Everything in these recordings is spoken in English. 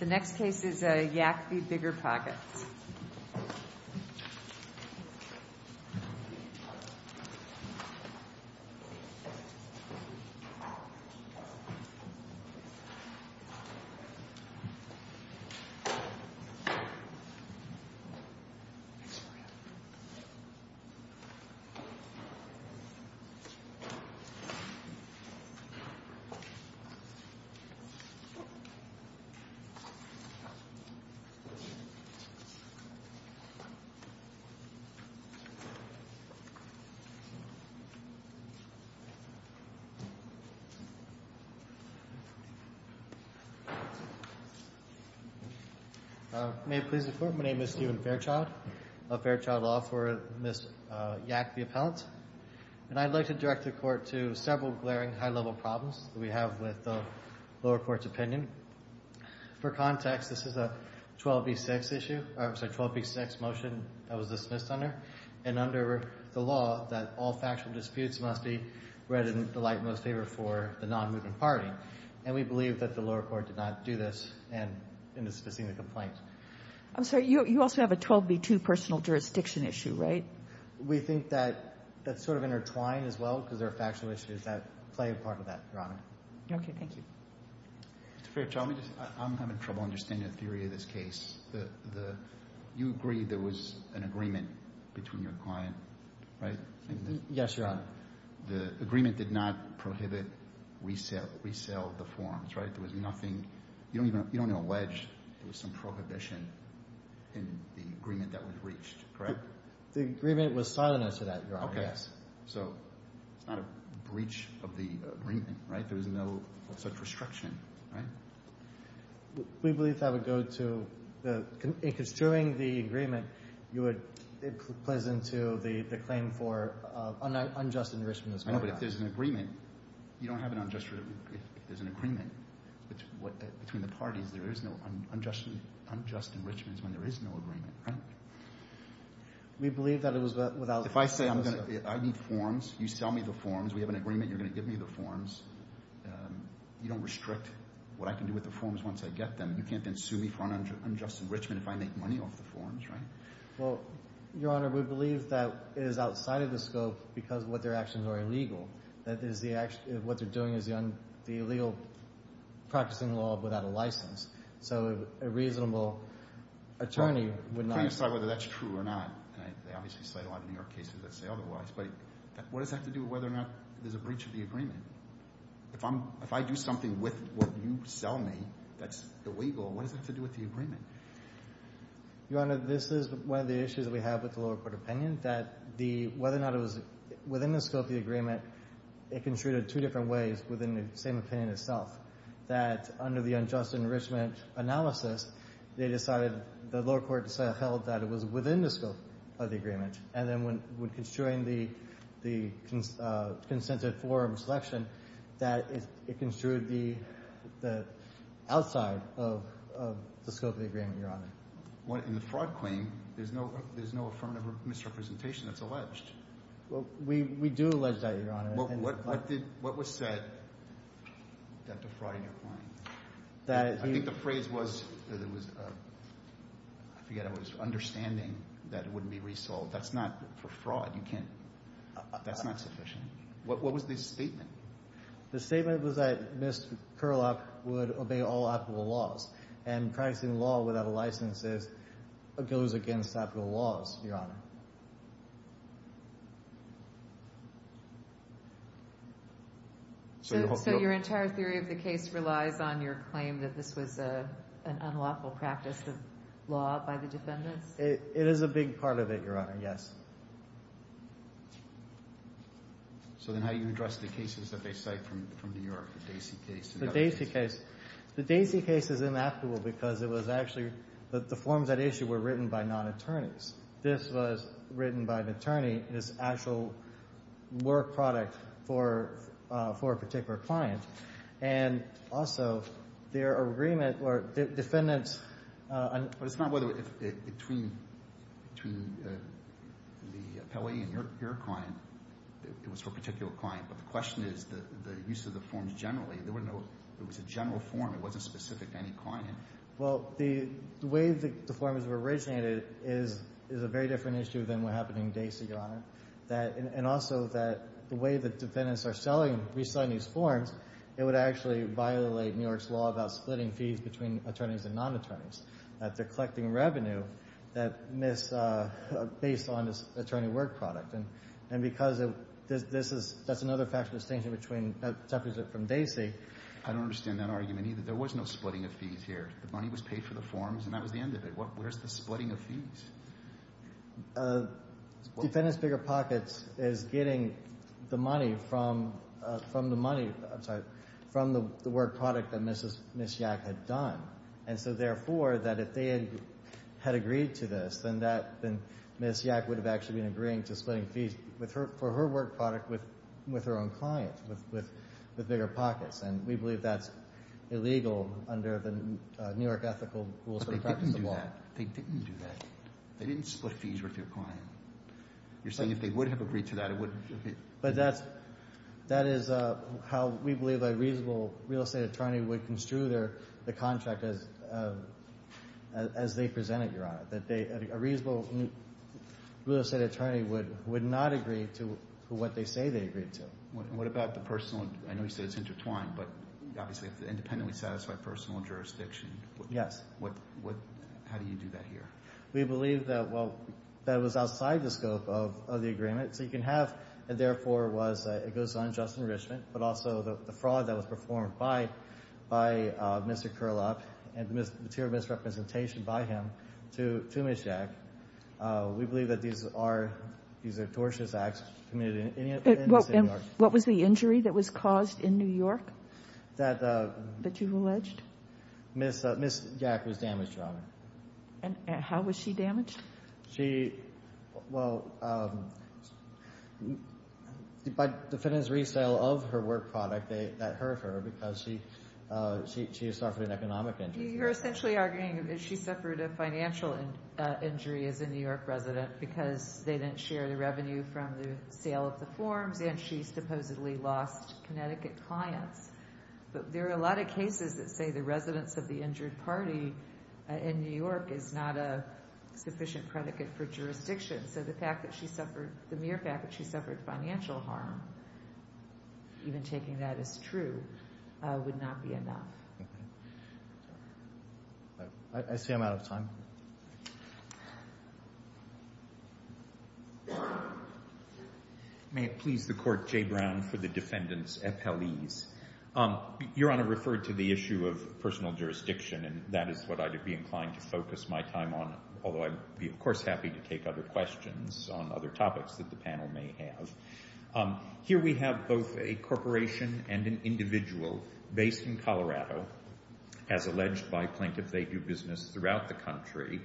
The next case is Yak v. BiggerPockets. May it please the Court, my name is Steven Fairchild of Fairchild Law for Ms. Yak, the appellant. And I'd like to direct the Court to several glaring high-level problems that we have with For context, this is a 12b6 motion that was dismissed under and under the law that all factual disputes must be read in the light most favored for the non-moving party. And we believe that the lower court did not do this in dismissing the complaint. I'm sorry, you also have a 12b2 personal jurisdiction issue, right? We think that's sort of intertwined as well because there are factual issues that play a part of that, Your Honor. Okay, thank you. Mr. Fairchild, I'm having trouble understanding the theory of this case. You agreed there was an agreement between your client, right? Yes, Your Honor. The agreement did not prohibit resale of the forms, right? There was nothing. You don't even allege there was some prohibition in the agreement that was reached, correct? The agreement was silent as to that, Your Honor, yes. Okay, so it's not a breach of the agreement, right? There was no such restriction, right? We believe that would go to the ‑‑ in construing the agreement, it plays into the claim for unjust enrichment. I know, but if there's an agreement, you don't have an unjust enrichment if there's an agreement between the parties. There is no unjust enrichment when there is no agreement, right? We believe that it was without ‑‑ If I say I need forms, you sell me the forms, we have an agreement, you're going to give me the forms. You don't restrict what I can do with the forms once I get them. You can't then sue me for unjust enrichment if I make money off the forms, right? Well, Your Honor, we believe that is outside of the scope because what their actions are illegal. What they're doing is the illegal practicing law without a license. So a reasonable attorney would not ‑‑ I'm trying to decide whether that's true or not. They obviously cite a lot of New York cases that say otherwise. But what does that have to do with whether or not there's a breach of the agreement? If I do something with what you sell me that's illegal, what does that have to do with the agreement? Your Honor, this is one of the issues that we have with the lower court opinion, that whether or not it was within the scope of the agreement, it construed it two different ways within the same opinion itself, that under the unjust enrichment analysis, and then when construing the consensus forum selection, that it construed the outside of the scope of the agreement, Your Honor. In the fraud claim, there's no affirmative misrepresentation that's alleged. We do allege that, Your Honor. What was said that defrauded your client? I think the phrase was, I forget, that was understanding that it wouldn't be resold. That's not for fraud. That's not sufficient. What was the statement? The statement was that Ms. Curlock would obey all applicable laws, and practicing law without a license goes against applicable laws, Your Honor. So your entire theory of the case relies on your claim that this was an unlawful practice of law by the defendants? It is a big part of it, Your Honor. Yes. So then how do you address the cases that they cite from New York, the Dacey case? The Dacey case. The Dacey case is inapplicable because it was actually, the forms that issue were written by non-attorneys. This was written by an attorney, and it's actual work product for a particular client. And also, their agreement, or defendants... But it's not whether it's between the appellee and your client. It was for a particular client. But the question is the use of the forms generally. They wouldn't know it was a general form. It wasn't specific to any client. Well, the way the forms were originated is a very different issue than what happened in Dacey, Your Honor. And also, the way that defendants are reselling these forms, it would actually violate New York's law about splitting fees between attorneys and non-attorneys. They're collecting revenue based on this attorney work product. And because that's another factual distinction between a deficit from Dacey... I don't understand that argument either. There was no splitting of fees here. The money was paid for the forms, and that was the end of it. Where's the splitting of fees? Defendant's BiggerPockets is getting the money from the money... I'm sorry, from the work product that Ms. Yak had done. And so, therefore, that if they had agreed to this, then Ms. Yak would have actually been agreeing to splitting fees for her work product with her own client, with BiggerPockets. And we believe that's illegal under the New York ethical rules for the practice of the law. They didn't do that. They didn't split fees with your client. You're saying if they would have agreed to that, it wouldn't... But that is how we believe a reasonable real estate attorney would construe the contract as they present it, Your Honor. A reasonable real estate attorney would not agree to what they say they agreed to. What about the personal? I know you said it's intertwined, but obviously, independently satisfied personal jurisdiction. Yes. How do you do that here? We believe that, well, that it was outside the scope of the agreement. So you can have... And, therefore, it goes unjust enrichment, but also the fraud that was performed by Mr. Curlup and the material misrepresentation by him to Ms. Yak. We believe that these are tortious acts committed in New York. What was the injury that was caused in New York that you've alleged? Ms. Yak was damaged, Your Honor. And how was she damaged? She, well, by defendant's resale of her work product, that hurt her because she suffered an economic injury. You're essentially arguing that she suffered a financial injury as a New York resident because they didn't share the revenue from the sale of the forms and she supposedly lost Connecticut clients. But there are a lot of cases that say the residence of the injured party in New York is not a sufficient predicate for jurisdiction. So the mere fact that she suffered financial harm, even taking that as true, would not be enough. Okay. I see I'm out of time. May it please the Court, J. Brown for the defendant's appellees. Your Honor referred to the issue of personal jurisdiction, and that is what I'd be inclined to focus my time on, although I'd be, of course, happy to take other questions on other topics that the panel may have. Here we have both a corporation and an individual based in Colorado, as alleged by plaintiff they do business throughout the country,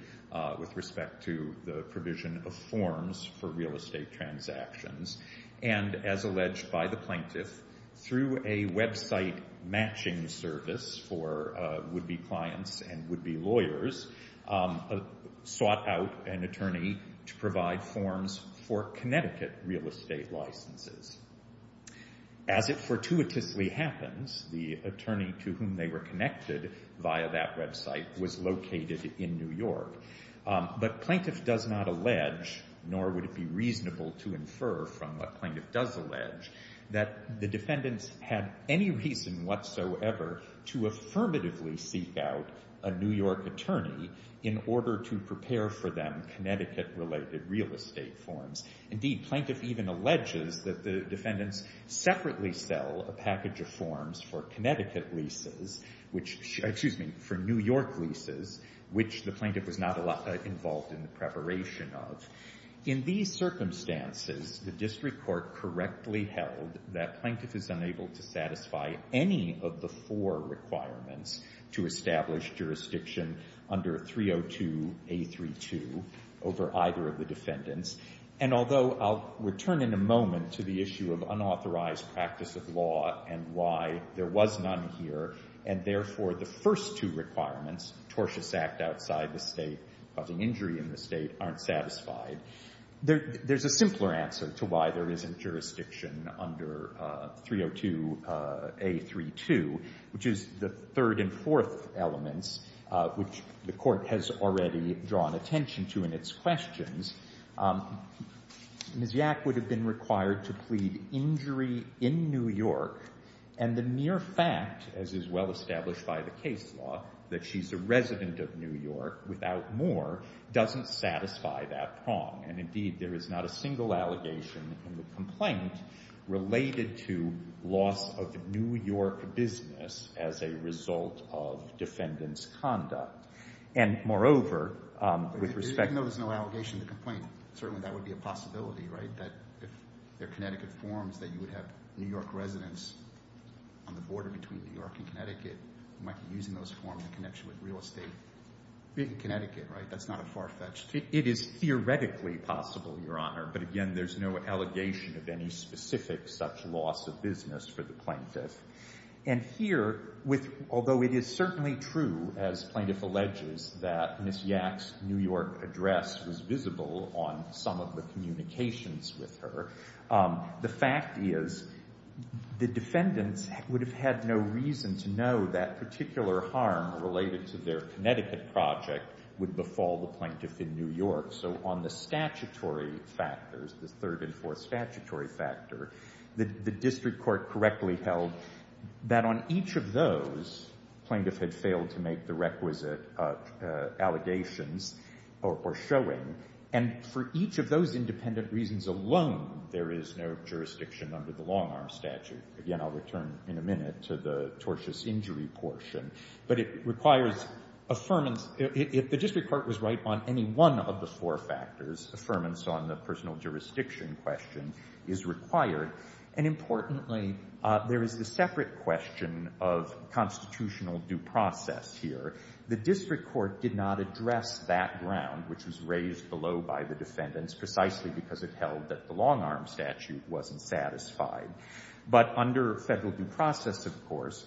with respect to the provision of forms for real estate transactions. And as alleged by the plaintiff, through a website matching service for would-be clients and would-be lawyers, sought out an attorney to provide forms for Connecticut real estate licenses. As it fortuitously happens, the attorney to whom they were connected via that website was located in New York. But plaintiff does not allege, nor would it be reasonable to infer from what plaintiff does allege, that the defendants had any reason whatsoever to affirmatively seek out a New York attorney in order to prepare for them Connecticut-related real estate forms. Indeed, plaintiff even alleges that the defendants separately sell a package of forms for Connecticut leases, which, excuse me, for New York leases, which the plaintiff was not involved in the preparation of. In these circumstances, the district court correctly held that plaintiff is unable to satisfy any of the four requirements to establish jurisdiction under 302A32 over either of the defendants. And although I'll return in a moment to the issue of unauthorized practice of law and why there was none here, and therefore the first two requirements, tortious act outside the State, causing injury in the State, aren't satisfied, there's a simpler answer to why there isn't jurisdiction under 302A32, which is the third and fourth elements, which the Court has already drawn attention to in its questions. Ms. Yak would have been required to plead injury in New York, and the mere fact, as is well established by the case law, that she's a resident of New York without more doesn't satisfy that prong. And indeed, there is not a single allegation in the complaint related to loss of New York business as a result of defendant's conduct. And moreover, with respect to... Certainly that would be a possibility, right, that if they're Connecticut forms, that you would have New York residents on the border between New York and Connecticut who might be using those forms in connection with real estate in Connecticut, right? That's not a far-fetched... It is theoretically possible, Your Honor, but again, there's no allegation of any specific such loss of business for the plaintiff. And here, although it is certainly true, as plaintiff alleges, that Ms. Yak's New York address was visible on some of the communications with her, the fact is the defendants would have had no reason to know that particular harm related to their Connecticut project would befall the plaintiff in New York. So on the statutory factors, the third and fourth statutory factor, the district court correctly held that on each of those, the plaintiff had failed to make the requisite allegations or showing. And for each of those independent reasons alone, there is no jurisdiction under the long-arm statute. Again, I'll return in a minute to the tortious injury portion. But it requires affirmance... If the district court was right on any one of the four factors, affirmance on the personal jurisdiction question is required. And importantly, there is the separate question of constitutional due process here. The district court did not address that ground, which was raised below by the defendants, precisely because it held that the long-arm statute wasn't satisfied. But under federal due process, of course,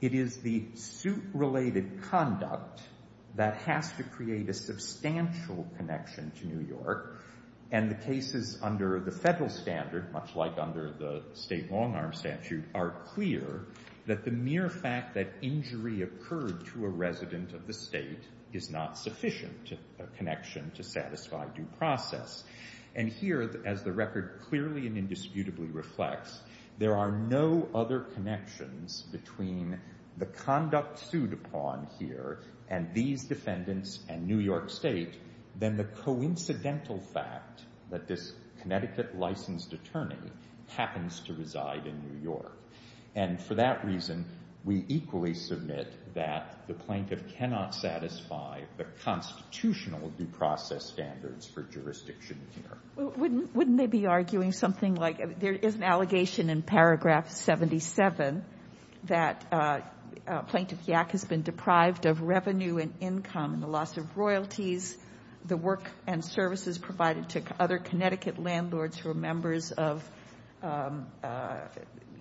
it is the suit-related conduct that has to create a substantial connection to New York. And the cases under the federal standard, much like under the state long-arm statute, are clear that the mere fact that injury occurred to a resident of the state is not sufficient connection to satisfy due process. And here, as the record clearly and indisputably reflects, there are no other connections between the conduct sued upon here and these defendants and New York State than the coincidental fact that this Connecticut-licensed attorney happens to reside in New York. And for that reason, we equally submit that the plaintiff cannot satisfy the constitutional due process standards for jurisdiction here. Wouldn't they be arguing something like there is an allegation in paragraph 77 that Plaintiff Yack has been deprived of revenue and income and the loss of royalties, the work and services provided to other Connecticut landlords who are members of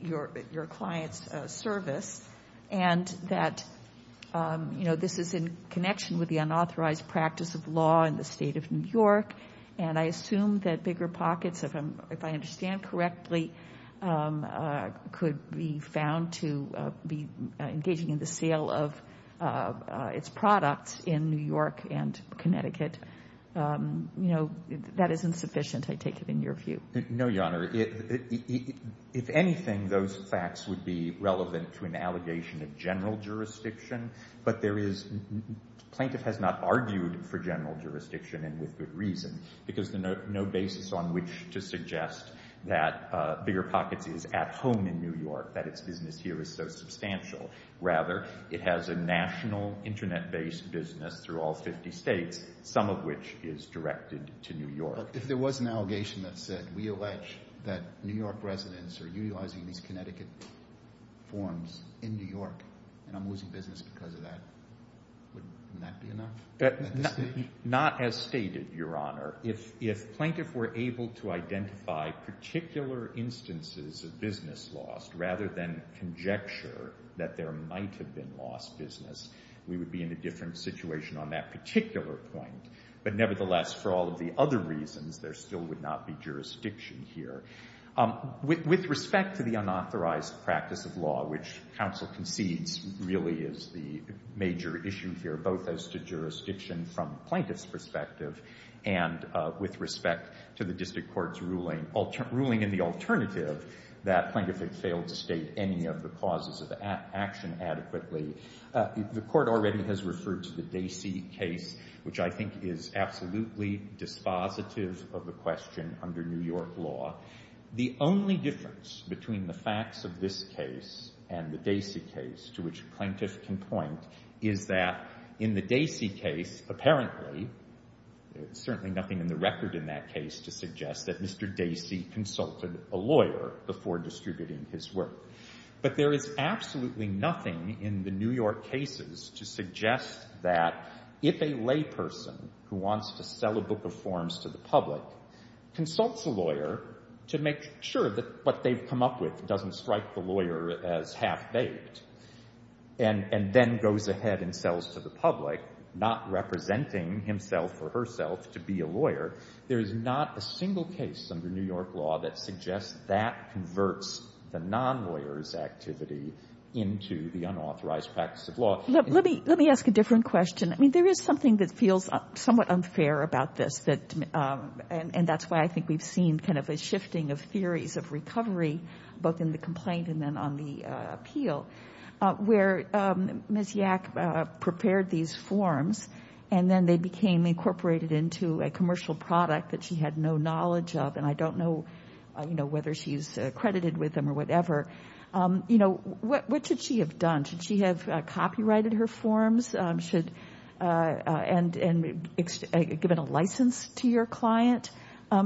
your client's service, and that, you know, this is in connection with the unauthorized practice of law in the state of New York, and I assume that bigger pockets, if I understand correctly, could be found to be engaging in the sale of its products in New York and Connecticut. You know, that isn't sufficient, I take it, in your view. No, Your Honor. If anything, those facts would be relevant to an allegation of general jurisdiction, but there is... Plaintiff has not argued for general jurisdiction and with good reason because there's no basis on which to suggest that bigger pockets is at home in New York, that its business here is so substantial. Rather, it has a national Internet-based business through all 50 states, some of which is directed to New York. But if there was an allegation that said, we allege that New York residents are utilizing these Connecticut forms in New York and I'm losing business because of that, wouldn't that be enough at this stage? Not as stated, Your Honor. If plaintiffs were able to identify particular instances of business loss rather than conjecture that there might have been lost business, we would be in a different situation on that particular point. But nevertheless, for all of the other reasons, there still would not be jurisdiction here. With respect to the unauthorized practice of law, which counsel concedes really is the major issue here, both as to jurisdiction from the plaintiff's perspective and with respect to the district court's ruling, ruling in the alternative that plaintiff had failed to state any of the causes of action adequately, the court already has referred to the Dacey case, which I think is absolutely dispositive of the question under New York law. The only difference between the facts of this case and the Dacey case, to which a plaintiff can point, is that in the Dacey case, apparently, there's certainly nothing in the record in that case to suggest that Mr. Dacey consulted a lawyer before distributing his work. But there is absolutely nothing in the New York cases to suggest that if a layperson who wants to sell a book of forms to the public consults a lawyer to make sure that what they've come up with doesn't strike the lawyer as half-baked and then goes ahead and sells to the public, not representing himself or herself to be a lawyer, there is not a single case under New York law that suggests that converts the non-lawyers' activity into the unauthorized practice of law. Let me ask a different question. I mean, there is something that feels somewhat unfair about this, and that's why I think we've seen kind of a shifting of theories of recovery, both in the complaint and then on the appeal, where Ms. Yak prepared these forms, and then they became incorporated into a commercial product that she had no knowledge of, and I don't know whether she's credited with them or whatever. You know, what should she have done? Should she have copyrighted her forms? Should... And given a license to your client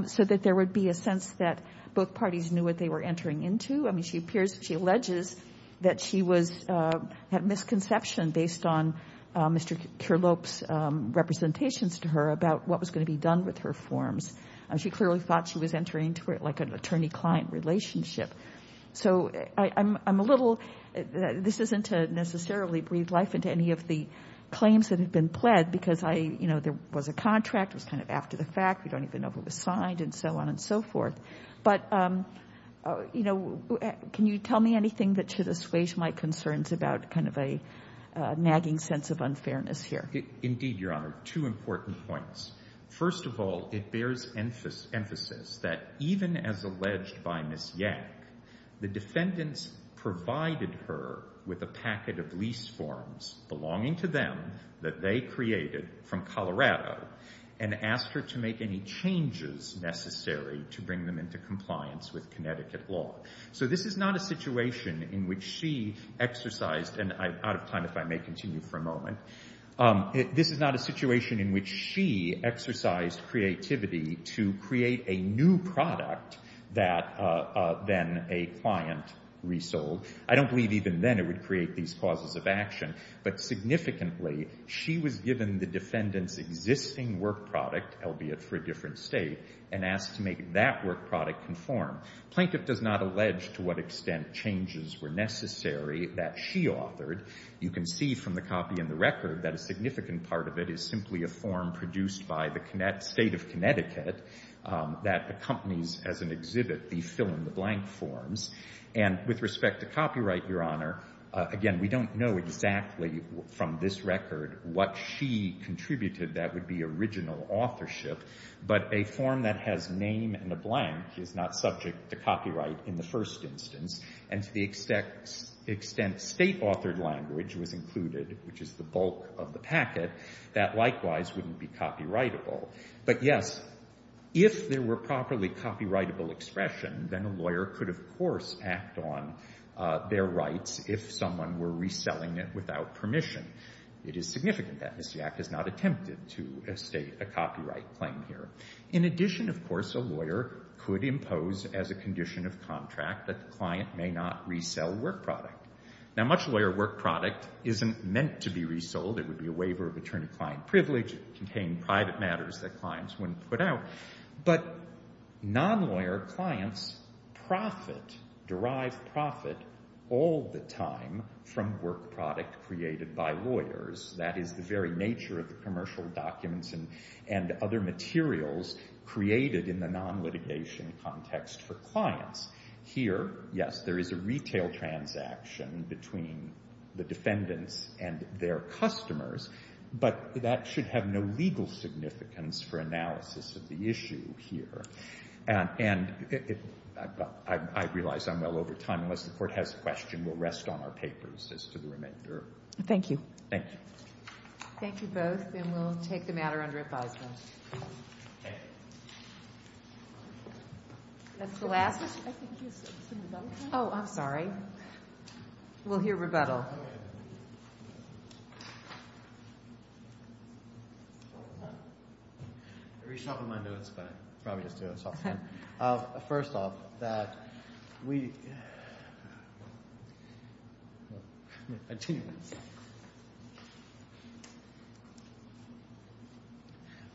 so that there would be a sense that both parties knew what they were entering into? I mean, she appears... She alleges that she was... had misconception based on Mr. Kirlop's representations to her about what was going to be done with her forms. She clearly thought she was entering into, like, an attorney-client relationship. So I'm a little... This isn't to necessarily breathe life into any of the claims that have been pled, because I... You know, there was a contract. It was kind of after the fact. We don't even know who was signed and so on and so forth. But, you know, can you tell me anything that should assuage my concerns about kind of a nagging sense of unfairness here? Indeed, Your Honor. Two important points. First of all, it bears emphasis that even as alleged by Ms. Yak, the defendants provided her with a packet of lease forms belonging to them that they created from Colorado and asked her to make any changes necessary to bring them into compliance with Connecticut law. So this is not a situation in which she exercised... And I'm out of time, if I may continue for a moment. This is not a situation in which she exercised creativity to create a new product that then a client resold. I don't believe even then it would create these causes of action. But significantly, she was given the defendant's existing work product, albeit for a different state, and asked to make that work product conform. Plaintiff does not allege to what extent changes were necessary that she authored. You can see from the copy in the record that a significant part of it is simply a form produced by the state of Connecticut that accompanies as an exhibit the fill-in-the-blank forms. And with respect to copyright, Your Honor, again, we don't know exactly from this record what she contributed that would be original authorship. But a form that has name and a blank is not subject to copyright in the first instance. And to the extent state-authored language was included, which is the bulk of the packet, that likewise wouldn't be copyrightable. But yes, if there were properly copyrightable expression, then a lawyer could, of course, act on their rights if someone were reselling it without permission. It is significant that Missyak has not attempted to estate a copyright claim here. In addition, of course, a lawyer could impose as a condition of contract that the client may not resell work product. Now, much lawyer work product isn't meant to be resold. It would be a waiver of attorney-client privilege. It contained private matters that clients wouldn't put out. But non-lawyer clients profit, derive profit, all the time from work product created by lawyers. That is the very nature of the commercial documents and other materials created in the non-litigation context for clients. Here, yes, there is a retail transaction between the defendants and their customers. But that should have no legal significance for analysis of the issue here. And I realize I'm well over time. Unless the Court has a question, we'll rest on our papers as to the remainder. Thank you. Thank you. Thank you both. And we'll take the matter under advisement. OK. That's the last? I think you said some rebuttal. Oh, I'm sorry. We'll hear rebuttal. I reached out with my notes, but I'll probably just do it. It's all fine. First off, that we.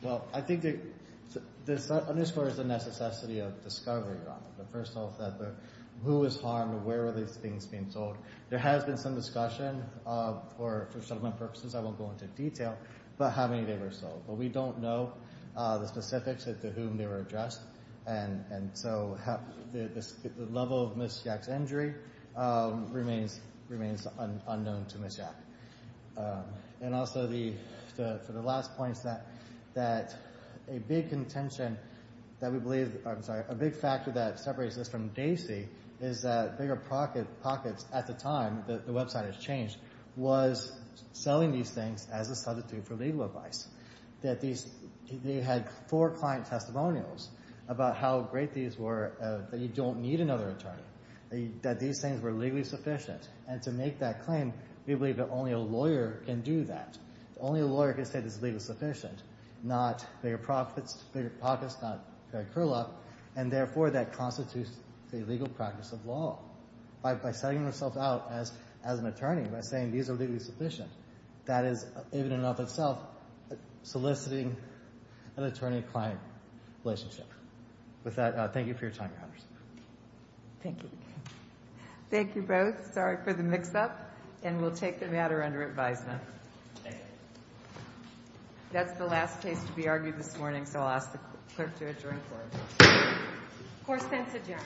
Well, I think that this underscores the necessity of discovery. First off, who was harmed? Where were these things being sold? There has been some discussion for settlement purposes. I won't go into detail, but how many they were sold. But we don't know the specifics as to whom they were addressed. And so the level of misinformation about Ms. Yack's injury remains unknown to Ms. Yack. And also, for the last points, that a big contention that we believe. I'm sorry. A big factor that separates this from DACY is that BiggerPockets at the time, the website has changed, was selling these things as a substitute for legal advice. They had four client testimonials about how great these were, that you don't need another attorney, that these things were legally sufficient. And to make that claim, we believe that only a lawyer can do that. Only a lawyer can say this is legally sufficient. Not BiggerPockets, not Craig Curlup. And therefore, that constitutes a legal practice of law. By setting themselves out as an attorney, by saying these are legally sufficient, that is, in and of itself, soliciting an attorney-client relationship. With that, thank you for your time, Your Honors. Thank you. Thank you both. Sorry for the mix-up. And we'll take the matter under advisement. Thank you. That's the last case to be argued this morning, so I'll ask the clerk to adjourn the court. Court stands adjourned. Thank you. Thank you.